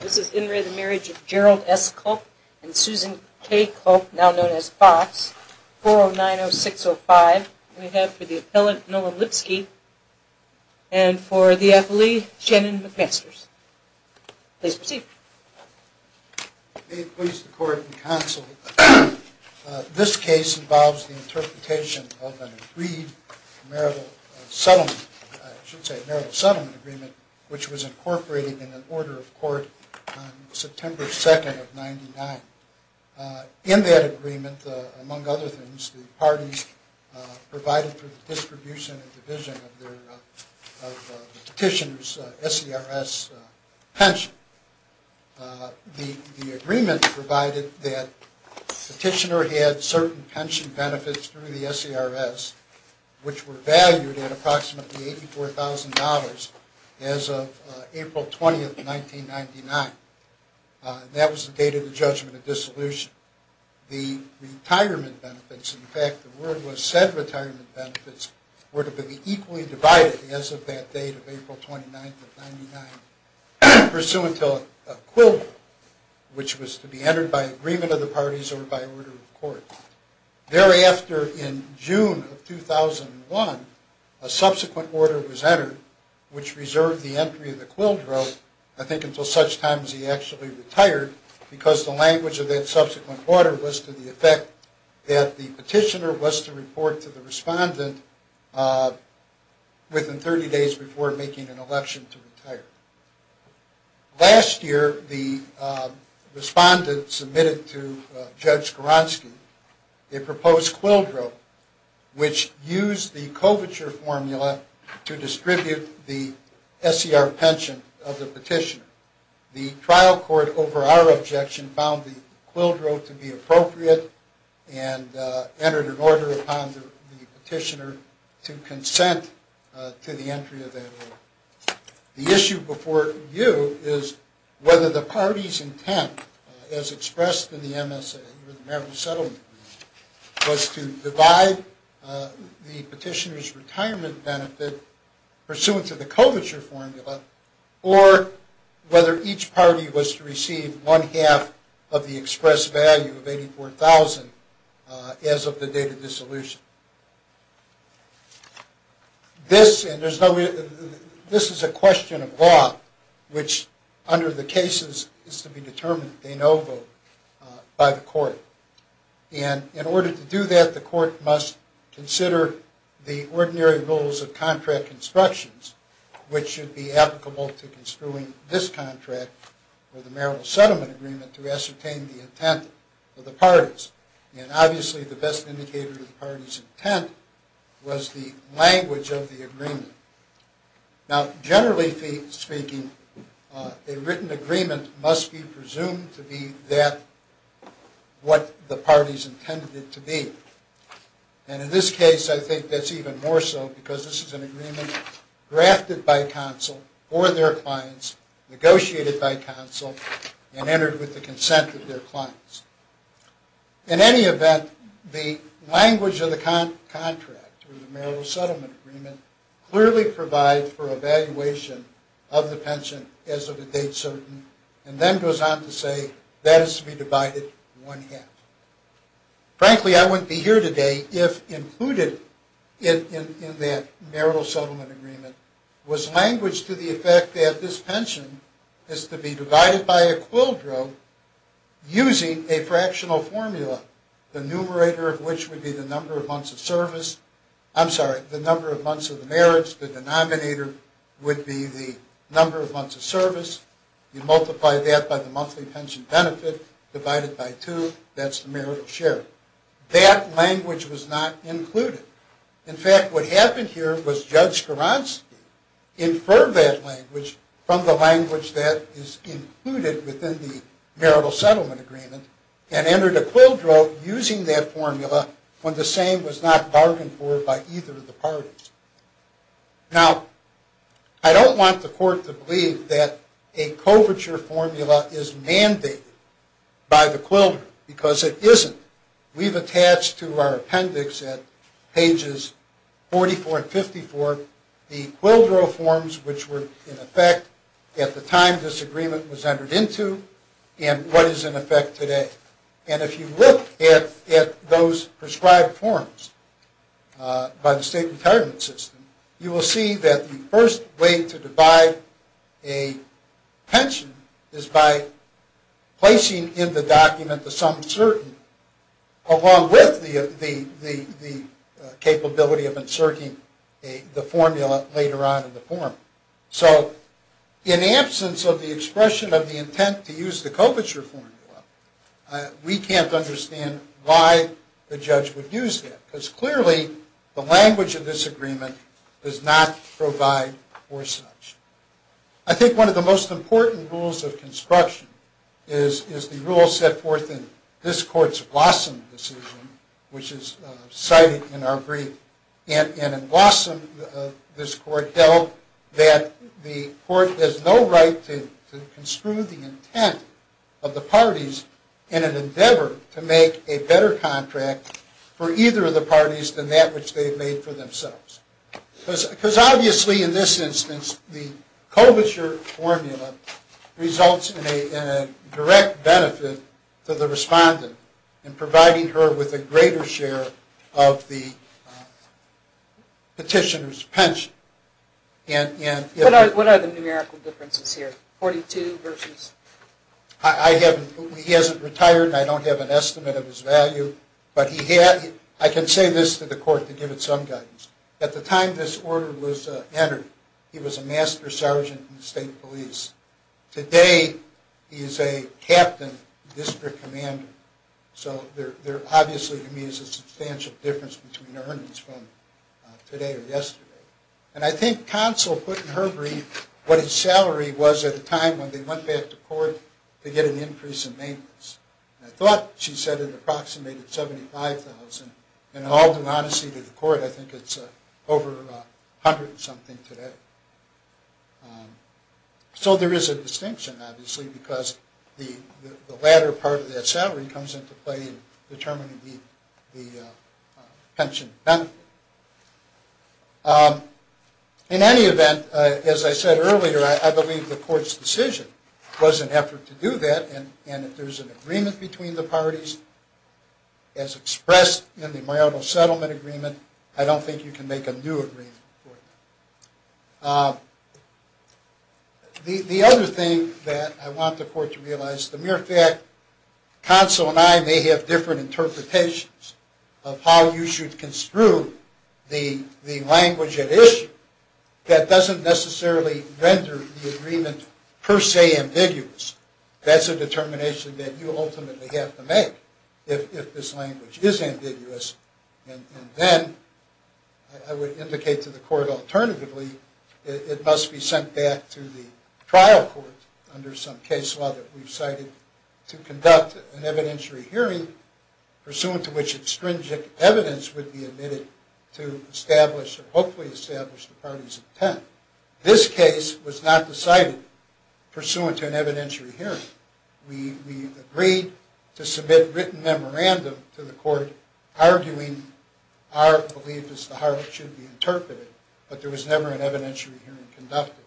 This is In Re the Marriage of Gerald S. Culp and Susan K. Culp, now known as Fox, 4090605. We have for the appellant, Nolan Lipsky, and for the affilee, Shannon McMasters. Please proceed. May it please the court and counsel, this case involves the interpretation of an agreed marital settlement, I should say marital settlement agreement, which was incorporated in an order of court on September 2nd of 99. In that agreement, among other things, the parties provided for the distribution and division of the petitioner's S.E.R.S. pension. The agreement provided that the petitioner had certain pension benefits through the S.E.R.S., which were valued at approximately $84,000 as of April 20th, 1999. That was the date of the judgment of dissolution. The retirement benefits, in fact the word was said retirement benefits, were to be equally divided as of that date of April 29th of 99, pursuant to a quildro, which was to be entered by agreement of the parties or by order of court. Thereafter, in June of 2001, a subsequent order was entered, which reserved the entry of the quildro, I think until such time as he actually retired, because the language of that subsequent order was to the effect that the petitioner was to report to the respondent within 30 days before making an election to retire. Last year, the respondent submitted to Judge Goronsky a proposed quildro, which used the coverture formula to distribute the S.E.R.S. pension of the petitioner. The trial court, over our objection, found the quildro to be appropriate and entered an order upon the petitioner to consent to the entry of that order. The issue before you is whether the party's intent, as expressed in the MSA, was to divide the petitioner's retirement benefit pursuant to the coverture formula, or whether each party was to receive one half of the expressed value of $84,000 as of the date of dissolution. This is a question of law, which under the cases is to be determined by the court. In order to do that, the court must consider the ordinary rules of contract constructions, which should be applicable to construing this contract or the marital settlement agreement to ascertain the intent of the parties. Obviously, the best indicator of the party's intent was the language of the agreement. Generally speaking, a written agreement must be presumed to be what the parties intended it to be. In this case, I think that's even more so, because this is an agreement drafted by counsel for their clients, negotiated by counsel, and entered with the consent of their clients. In any event, the language of the contract or the marital settlement agreement clearly provides for evaluation of the pension as of the date certain, and then goes on to say that is to be divided in one half. Frankly, I wouldn't be here today if included in that marital settlement agreement was language to the effect that this pension is to be divided by a quildro using a fractional formula, the numerator of which would be the number of months of service. I'm sorry, the number of months of the marriage. The denominator would be the number of months of service. You multiply that by the monthly pension benefit, divide it by two, that's the marital share. That language was not included. In fact, what happened here was Judge Skowronski inferred that language from the language that is included within the marital settlement agreement and entered a quildro using that formula when the same was not bargained for by either of the parties. Now, I don't want the court to believe that a coverture formula is mandated by the quildro because it isn't. We've attached to our appendix at pages 44 and 54 the quildro forms which were in effect at the time this agreement was entered into and what is in effect today. And if you look at those prescribed forms by the state retirement system, you will see that the first way to divide a pension is by placing in the document the sum certain along with the capability of inserting the formula later on in the form. So in absence of the expression of the intent to use the coverture formula, we can't understand why the judge would use that because clearly the language of this agreement does not provide for such. I think one of the most important rules of construction is the rule set forth in this court's Blossom decision, which is cited in our brief. And in Blossom this court held that the court has no right to construe the intent of the parties in an endeavor to make a better contract for either of the parties than that which they've made for themselves. Because obviously in this instance the coverture formula results in a direct benefit to the respondent in providing her with a greater share of the petitioner's pension. What are the numerical differences here? 42 versus? He hasn't retired and I don't have an estimate of his value. But I can say this to the court to give it some guidance. At the time this order was entered, he was a master sergeant in the state police. Today he is a captain district commander. So there obviously to me is a substantial difference between earnings from today or yesterday. And I think counsel put in her brief what his salary was at the time when they went back to court to get an increase in maintenance. I thought she said it approximated $75,000. In all due honesty to the court, I think it's over a hundred and something today. So there is a distinction obviously because the latter part of that salary comes into play in determining the pension benefit. In any event, as I said earlier, I believe the court's decision was an effort to do that. And if there's an agreement between the parties as expressed in the marital settlement agreement, I don't think you can make a new agreement. The other thing that I want the court to realize, the mere fact counsel and I may have different interpretations of how you should construe the language at issue that doesn't necessarily render the agreement per se ambiguous. That's a determination that you ultimately have to make if this language is ambiguous. And then I would indicate to the court alternatively it must be sent back to the trial court under some case law that we've cited to conduct an evidentiary hearing pursuant to which extrinsic evidence would be admitted to establish or hopefully establish the parties' intent. This case was not decided pursuant to an evidentiary hearing. We agreed to submit written memorandum to the court arguing our beliefs as to how it should be interpreted, but there was never an evidentiary hearing conducted.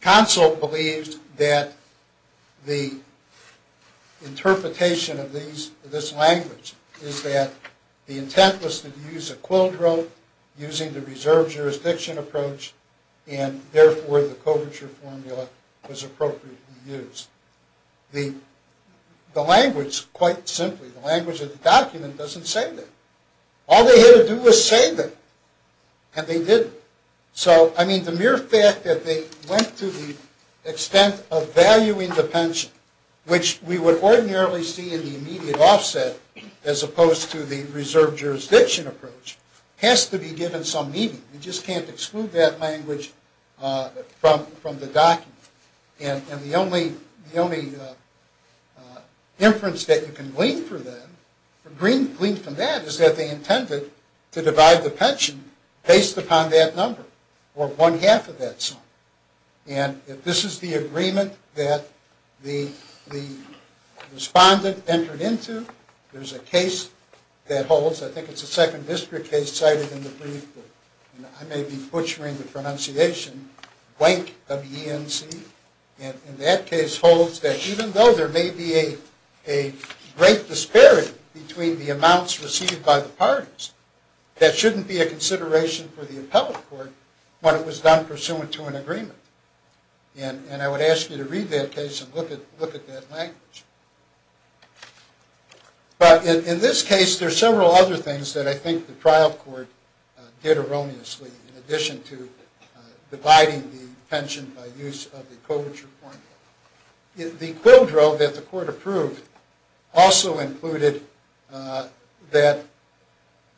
Counsel believed that the interpretation of this language is that the intent was to use a quill drug using the reserve jurisdiction approach, and therefore the coverture formula was appropriately used. The language, quite simply, the language of the document doesn't say that. All they had to do was say that, and they did. So, I mean, the mere fact that they went to the extent of valuing the pension, which we would ordinarily see in the immediate offset as opposed to the reserve jurisdiction approach, has to be given some meaning. You just can't exclude that language from the document. And the only inference that you can glean from that is that they intended to divide the pension based upon that number, or one-half of that sum. And if this is the agreement that the respondent entered into, there's a case that holds, I think it's a second district case cited in the brief, and I may be butchering the pronunciation, Wank of E.N.C. And that case holds that even though there may be a great disparity between the amounts received by the parties, that shouldn't be a consideration for the appellate court when it was done pursuant to an agreement. And I would ask you to read that case and look at that language. But in this case, there are several other things that I think the trial court did erroneously in addition to dividing the pension by use of the Coverture formula. The Quill Drove that the court approved also included that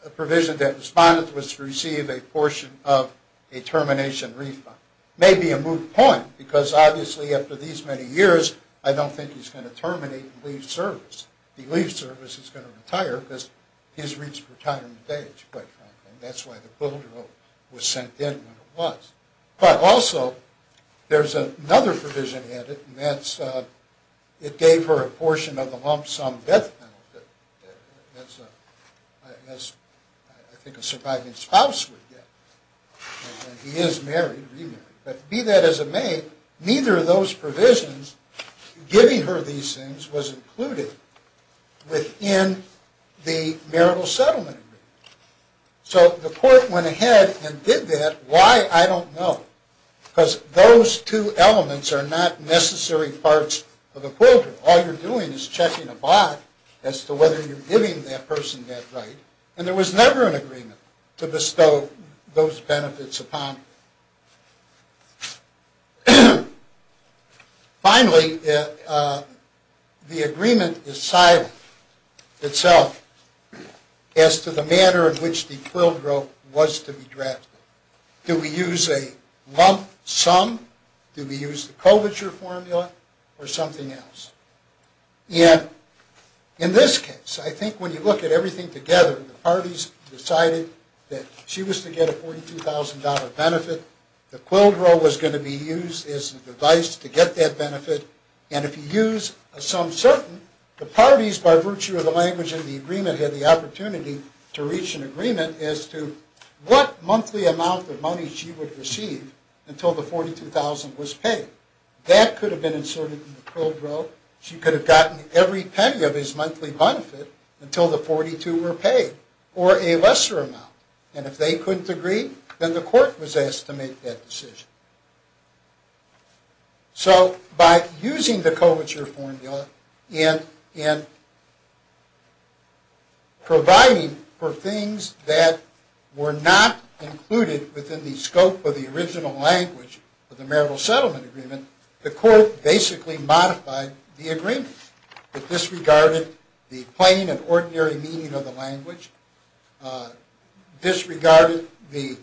a provision that the respondent was to receive a portion of a termination refund. Maybe a moot point, because obviously after these many years, I don't think he's going to terminate and leave service. If he leaves service, he's going to retire because he's reached retirement age, quite frankly. And that's why the Quill Drove was sent in when it was. But also, there's another provision added, and that's it gave her a portion of the lump sum death penalty that I think a surviving spouse would get. He is married, remarried. But be that as it may, neither of those provisions, giving her these things, was included within the marital settlement agreement. So the court went ahead and did that. Why? I don't know. Because those two elements are not necessary parts of a Quill Drive. All you're doing is checking a box as to whether you're giving that person that right. And there was never an agreement to bestow those benefits upon her. Finally, the agreement is silent itself as to the manner in which the Quill Drove was to be drafted. Do we use a lump sum? Do we use the culvature formula or something else? And in this case, I think when you look at everything together, the parties decided that she was to get a $42,000 benefit. The Quill Drove was going to be used as a device to get that benefit. And if you use a sum certain, the parties, by virtue of the language of the agreement, had the opportunity to reach an agreement as to what monthly amount of money she would receive until the $42,000 was paid. That could have been inserted in the Quill Drove. She could have gotten every penny of his monthly benefit until the $42,000 were paid, or a lesser amount. And if they couldn't agree, then the court was asked to make that decision. So by using the culvature formula and providing for things that were not included within the scope of the original language of the Marital Settlement Agreement, the court basically modified the agreement. It disregarded the plain and ordinary meaning of the language, disregarded the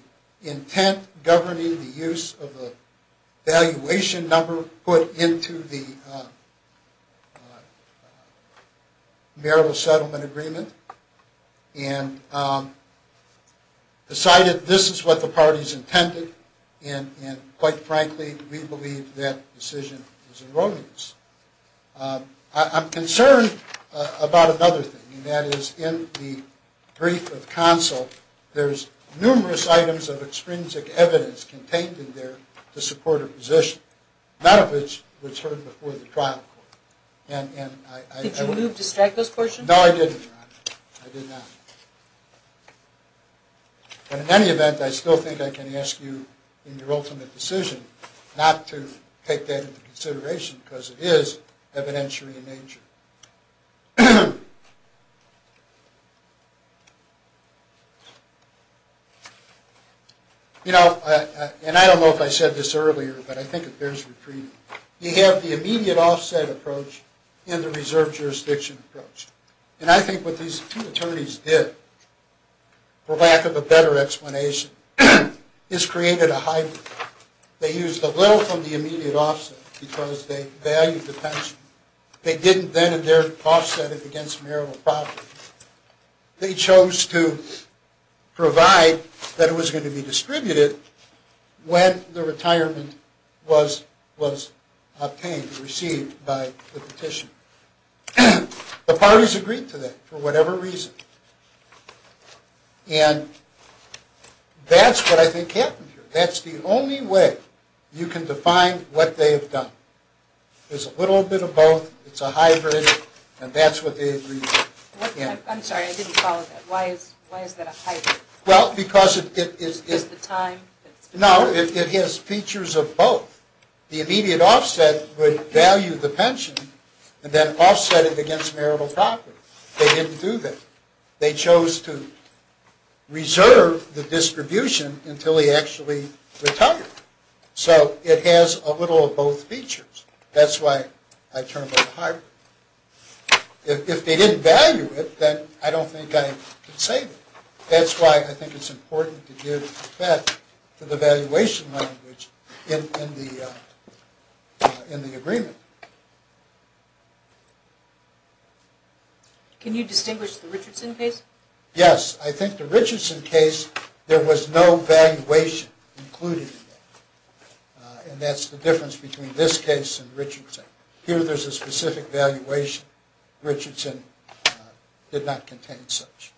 intent governing the use of the valuation number put into the Marital Settlement Agreement, and decided this is what the parties intended. And quite frankly, we believe that decision is erroneous. I'm concerned about another thing, and that is in the brief of counsel, there's numerous items of extrinsic evidence contained in there to support her position, none of which was heard before the trial court. Did you distract those questions? No, I did not. But in any event, I still think I can ask you in your ultimate decision not to take that into consideration because it is evidentiary in nature. You know, and I don't know if I said this earlier, but I think it bears repeating. You have the immediate offset approach and the reserve jurisdiction approach. And I think what these two attorneys did, for lack of a better explanation, is created a hybrid. They used a little from the immediate offset because they valued the pension. They didn't then and there offset it against marital property. They chose to provide that it was going to be distributed when the retirement was obtained, received by the petitioner. The parties agreed to that for whatever reason. And that's what I think happened here. That's the only way you can define what they have done. There's a little bit of both. It's a hybrid. And that's what they agreed to. I'm sorry. I didn't follow that. Why is that a hybrid? Well, because it is. Is it the time? No, it has features of both. The immediate offset would value the pension and then offset it against marital property. They didn't do that. They chose to reserve the distribution until he actually retired. So it has a little of both features. That's why I term it a hybrid. If they didn't value it, then I don't think I could say that. That's why I think it's important to give credit to the valuation language in the agreement. Can you distinguish the Richardson case? Yes. I think the Richardson case, there was no valuation included in that. And that's the difference between this case and Richardson. Here there's a specific valuation. Richardson did not contain such.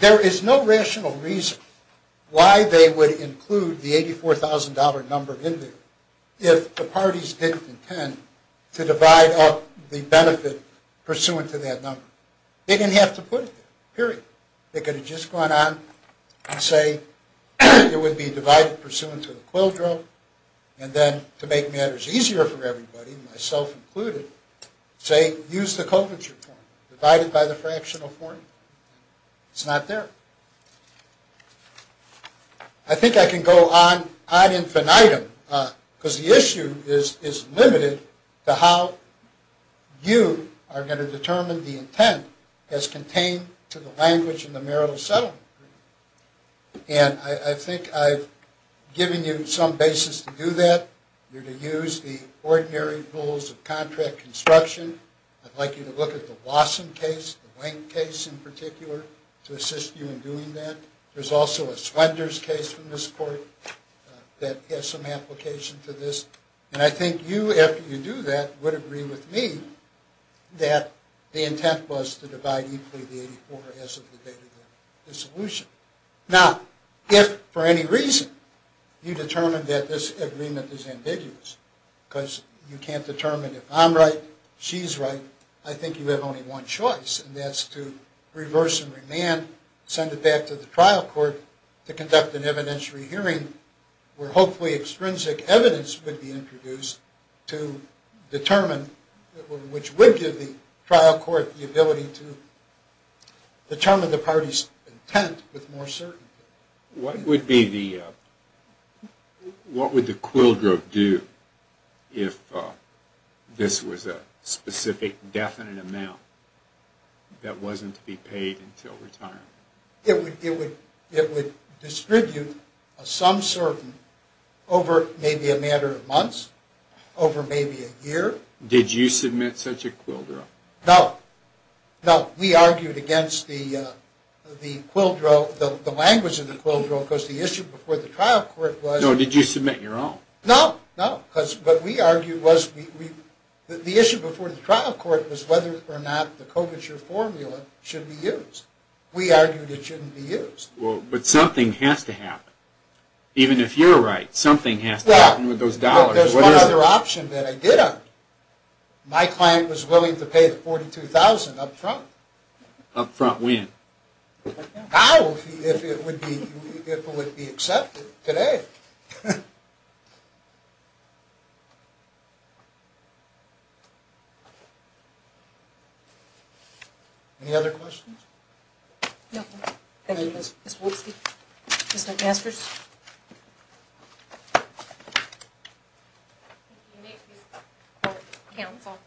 There is no rational reason why they would include the $84,000 number in there if the parties didn't intend to divide up the benefit pursuant to that number. They didn't have to put it there. Period. They could have just gone on and say it would be divided pursuant to the quill drill and then to make matters easier for everybody, myself included, say use the Colvin's reform. Divide it by the fractional form. It's not there. I think I can go on ad infinitum because the issue is limited to how you are going to determine the intent as contained to the language in the marital settlement agreement. And I think I've given you some basis to do that. You're to use the ordinary rules of contract construction. I'd like you to look at the Wasson case, the Wayne case in particular, to assist you in doing that. There's also a Splendor's case in this court that has some application to this. And I think you, after you do that, would agree with me that the intent was to divide equally the $84,000 as of the date of the dissolution. Now, if for any reason you determine that this agreement is ambiguous because you can't determine if I'm right, she's right, I think you have only one choice, and that's to reverse and remand, send it back to the trial court to conduct an evidentiary hearing where hopefully extrinsic evidence would be introduced to determine, which would give the trial court the ability to determine the party's intent with more certainty. What would the Quill-Drove do if this was a specific definite amount that wasn't to be paid until retirement? It would distribute some certain over maybe a matter of months, over maybe a year. Did you submit such a Quill-Drove? No. No, we argued against the Quill-Drove, the language of the Quill-Drove, because the issue before the trial court was... No, did you submit your own? No, no. Because what we argued was, the issue before the trial court was whether or not the Coverture formula should be used. We argued it shouldn't be used. Well, but something has to happen. Even if you're right, something has to happen with those dollars. Well, but there's one other option that I did have. My client was willing to pay the $42,000 up front. Up front when? Now, if it would be accepted today. Any other questions? No. Thank you, Ms. Wolitski. Ms. McMaster? Thank you, Ms. Wolitski, for the counsel.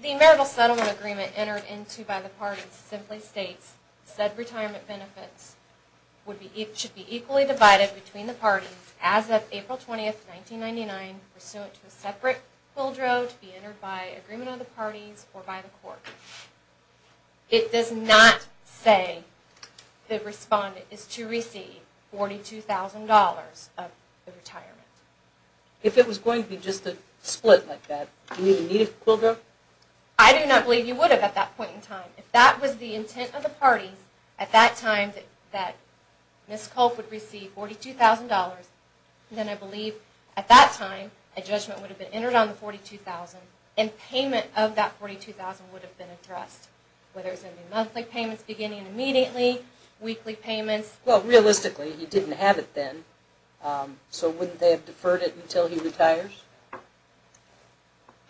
The marital settlement agreement entered into by the parties simply states, said retirement benefits should be equally divided between the parties as of April 20, 1999, pursuant to a separate Quill-Drove to be entered by agreement of the parties or by the court. It does not say the respondent is to receive $42,000 of the retirement. If it was going to be just a split like that, do we need a Quill-Drove? I do not believe you would have at that point in time. If that was the intent of the party at that time, that Ms. Culp would receive $42,000, then I believe at that time a judgment would have been entered on the $42,000 and payment of that $42,000 would have been addressed, whether it was monthly payments beginning immediately, weekly payments. Well, realistically, he didn't have it then, so wouldn't they have deferred it until he retires?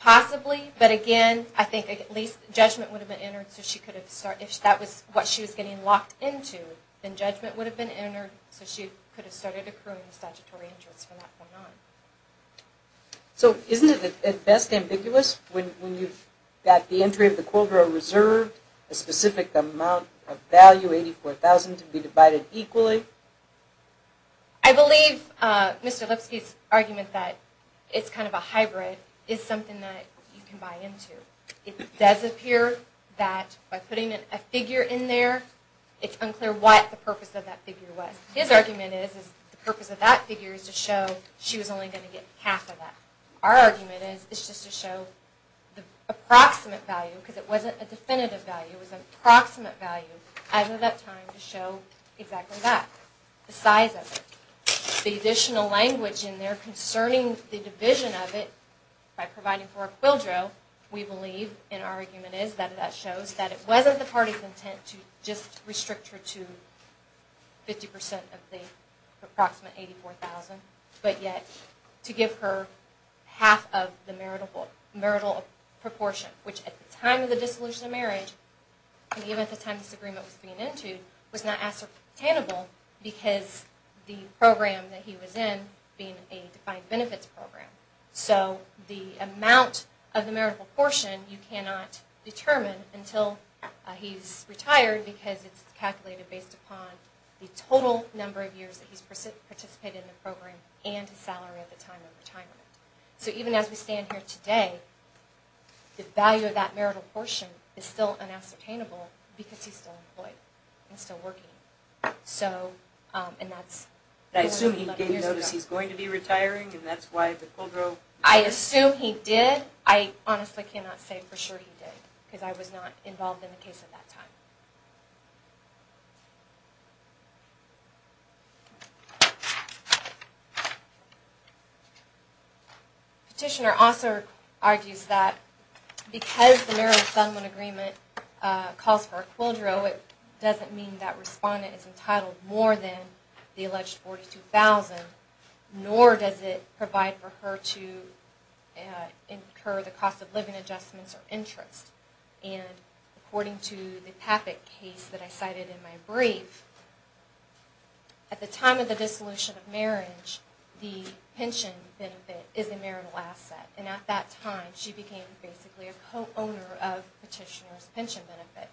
Possibly, but again, I think at least judgment would have been entered so she could have started. If that was what she was getting locked into, then judgment would have been entered so she could have started accruing statutory interest from that point on. So isn't it at best ambiguous when you've got the entry of the Quill-Drove reserved, a specific amount of value, $84,000, to be divided equally? I believe Mr. Lipsky's argument that it's kind of a hybrid is something that you can buy into. It does appear that by putting a figure in there, it's unclear what the purpose of that figure was. His argument is the purpose of that figure is to show she was only going to get half of that. Our argument is it's just to show the approximate value, because it wasn't a definitive value, it was an approximate value, as of that time to show exactly that, the size of it. The additional language in there concerning the division of it by providing for a Quill-Drove, we believe, and our argument is, that it wasn't the party's intent to just restrict her to 50% of the approximate $84,000, but yet to give her half of the marital proportion, which at the time of the dissolution of marriage, and even at the time this agreement was being entered, was not ascertainable because the program that he was in being a defined benefits program. So the amount of the marital proportion you cannot determine until he's retired, because it's calculated based upon the total number of years that he's participated in the program and his salary at the time of retirement. So even as we stand here today, the value of that marital portion is still unascertainable because he's still employed and still working. And that's more than 11 years ago. I assume he gave notice he's going to be retiring, and that's why the Quill-Drove... I assume he did. I honestly cannot say for sure he did, because I was not involved in the case at that time. Petitioner also argues that because the Marital Assignment Agreement calls for a Quill-Drove, it doesn't mean that respondent is entitled more than the alleged $42,000, nor does it provide for her to incur the cost of living adjustments or interest. And according to the Taffet case that I cited in my brief, at the time of the dissolution of marriage, the pension benefit is a marital asset. And at that time, she became basically a co-owner of Petitioner's pension benefit.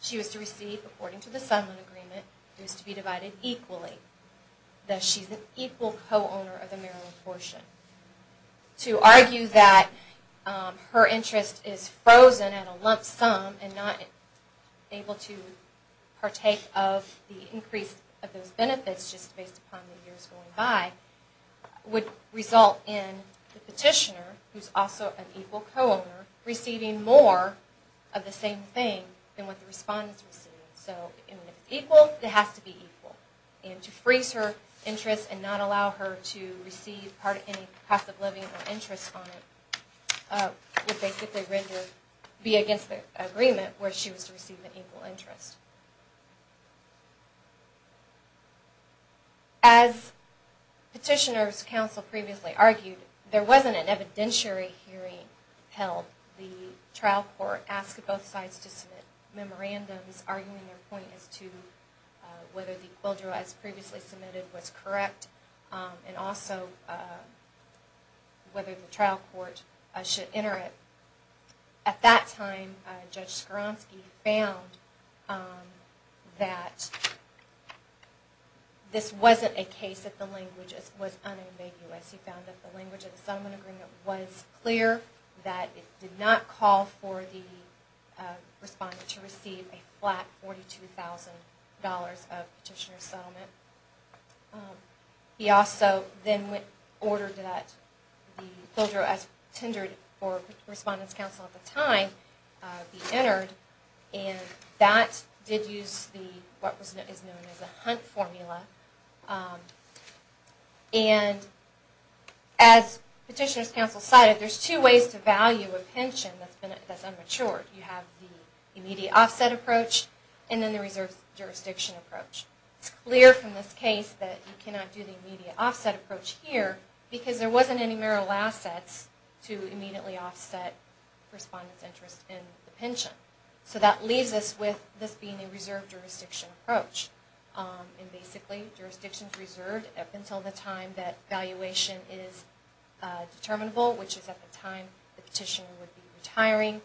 She was to receive, according to the Assignment Agreement, it was to be divided equally, that she's an equal co-owner of the marital portion. To argue that her interest is frozen at a lump sum and not able to partake of the increase of those benefits just based upon the years going by, would result in the Petitioner, who's also an equal co-owner, receiving more of the same thing than what the respondent's receiving. So if it's equal, it has to be equal. And to freeze her interest and not allow her to receive part of any cost of living or interest on it would basically be against the agreement where she was to receive an equal interest. As Petitioner's counsel previously argued, there wasn't an evidentiary hearing held. The trial court asked both sides to submit memorandums arguing their point as to whether the quid pro quo as previously submitted was correct and also whether the trial court should enter it. At that time, Judge Skronsky found that this wasn't a case that the language was unambiguous. He found that the language of the Settlement Agreement was clear, that it did not call for the respondent to receive a flat $42,000 of Petitioner's settlement. He also then ordered that the BILDRA as tendered for Respondent's counsel at the time be entered. And that did use what is known as the Hunt Formula. And as Petitioner's counsel cited, there's two ways to value a pension that's unmatured. You have the immediate offset approach and then the reserve jurisdiction approach. It's clear from this case that you cannot do the immediate offset approach here because there wasn't any marital assets to immediately offset Respondent's interest in the pension. So that leaves us with this being a reserve jurisdiction approach. And basically, jurisdiction is reserved up until the time that valuation is determinable, which is at the time the Petitioner would be retiring,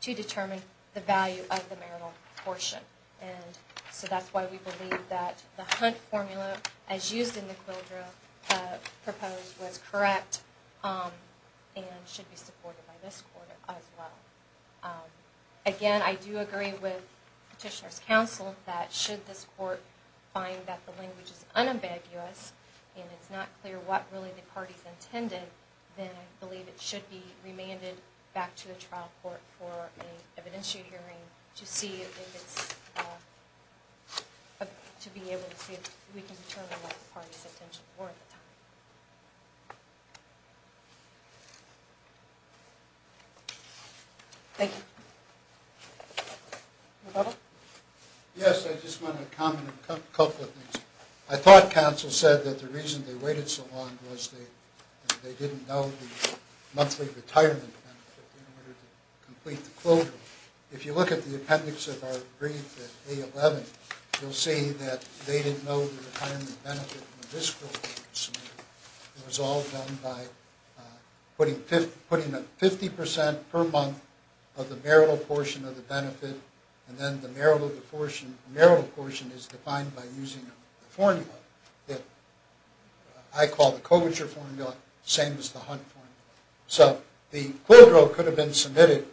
to determine the value of the marital portion. And so that's why we believe that the Hunt Formula, as used in the BILDRA, proposed was correct and should be supported by this Court as well. Again, I do agree with Petitioner's counsel that should this Court find that the language is unambiguous and it's not clear what really the parties intended, then I believe it should be remanded back to the trial court for an evidentiary hearing to be able to see if we can determine what the parties intended for the time. Thank you. Yes, I just want to comment on a couple of things. I thought counsel said that the reason they waited so long was they didn't know the monthly retirement benefit in order to complete the cloture. If you look at the appendix of our brief at A-11, you'll see that they didn't know the retirement benefit in the fiscal year. It was all done by putting a 50% per month of the marital portion of the benefit and then the marital portion is defined by using a formula that I call the Coverture Formula, the same as the Hunt Formula. So the cloture could have been submitted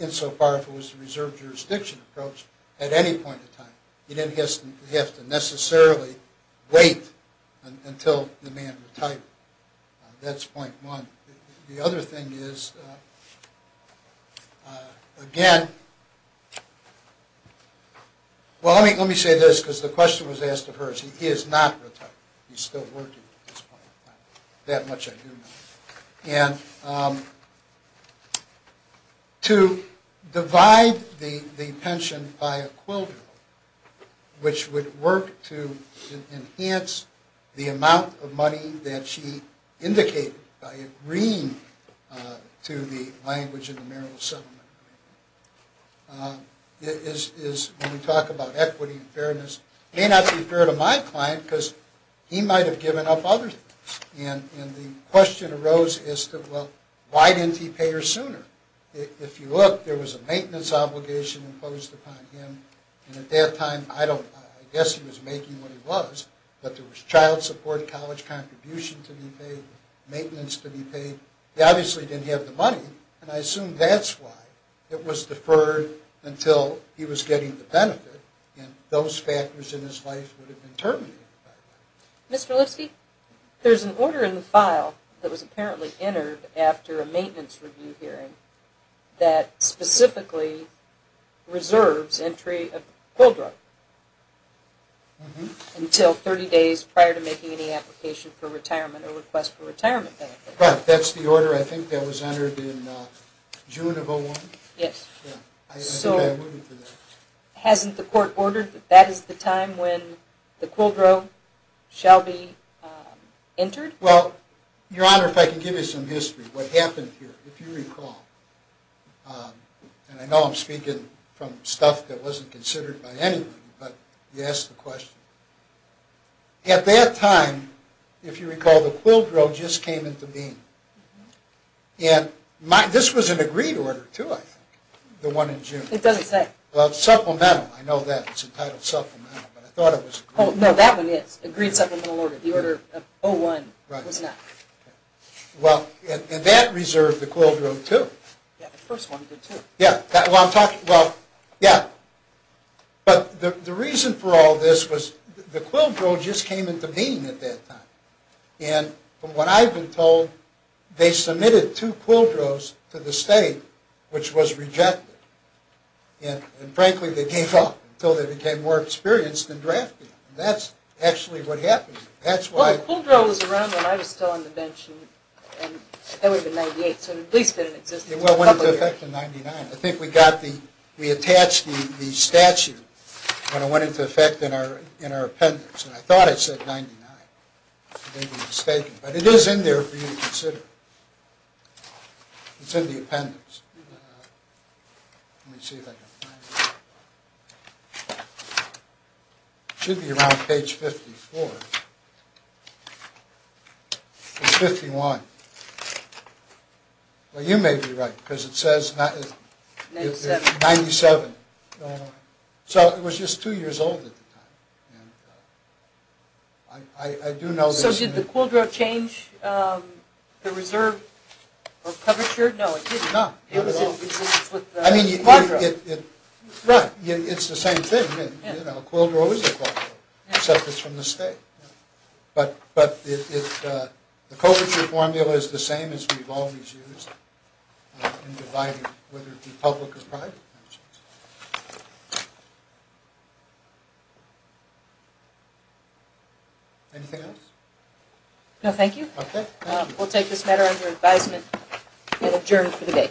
insofar as it was a reserve jurisdiction approach at any point in time. You didn't have to necessarily wait until the man retired. That's point one. The other thing is, again, well, let me say this because the question was asked of hers. He is not retired. He's still working at this point in time. That much I do know. And to divide the pension by a quilter, which would work to enhance the amount of money that she indicated by agreeing to the language of the marital settlement, is when we talk about equity and fairness, may not be fair to my client because he might have given up other things. And the question arose as to, well, why didn't he pay her sooner? If you look, there was a maintenance obligation imposed upon him. And at that time, I guess he was making what he was, but there was child support, college contribution to be paid, maintenance to be paid. He obviously didn't have the money. And I assume that's why it was deferred until he was getting the benefit. And those factors in his life would have been terminated. Mr. Lipsky, there's an order in the file that was apparently entered after a maintenance review hearing that specifically reserves entry of a quill drug until 30 days prior to making any application for retirement or request for retirement benefit. Right. That's the order. I think that was entered in June of 2001. Yes. I think I alluded to that. Hasn't the court ordered that that is the time when the quill drug shall be entered? Well, Your Honor, if I can give you some history, what happened here, if you recall. And I know I'm speaking from stuff that wasn't considered by anyone, but you asked the question. At that time, if you recall, the quill drug just came into being. And this was an agreed order, too, I think, the one in June. It doesn't say. Supplemental. I know that. It's entitled supplemental. Oh, no, that one is. Agreed supplemental order. The order of 01 was not. Well, and that reserved the quill drug, too. Yeah, the first one did, too. Yeah, well, I'm talking, well, yeah. But the reason for all this was the quill drug just came into being at that time. And from what I've been told, they submitted two quill drugs to the state, which was rejected. And frankly, they gave up until they became more experienced in drafting. And that's actually what happened. Well, the quill drug was around when I was still on the bench, and that would have been in 98. So it at least didn't exist until a couple of years. It went into effect in 99. I think we got the, we attached the statute when it went into effect in our appendix. And I thought it said 99. I may be mistaken. But it is in there for you to consider. It's in the appendix. Let me see if I can find it. It should be around page 54. It's 51. Well, you may be right, because it says 97. So it was just two years old at the time. I do know this. So did the quill drug change the reserve or coverture? No, it didn't. No, not at all. I mean, it's the same thing. A quill drug is a quill drug, except it's from the state. But the coverture formula is the same as we've always used in dividing whether it be public or private. Anything else? No, thank you. Okay. We'll take this matter under advisement and adjourn for the day.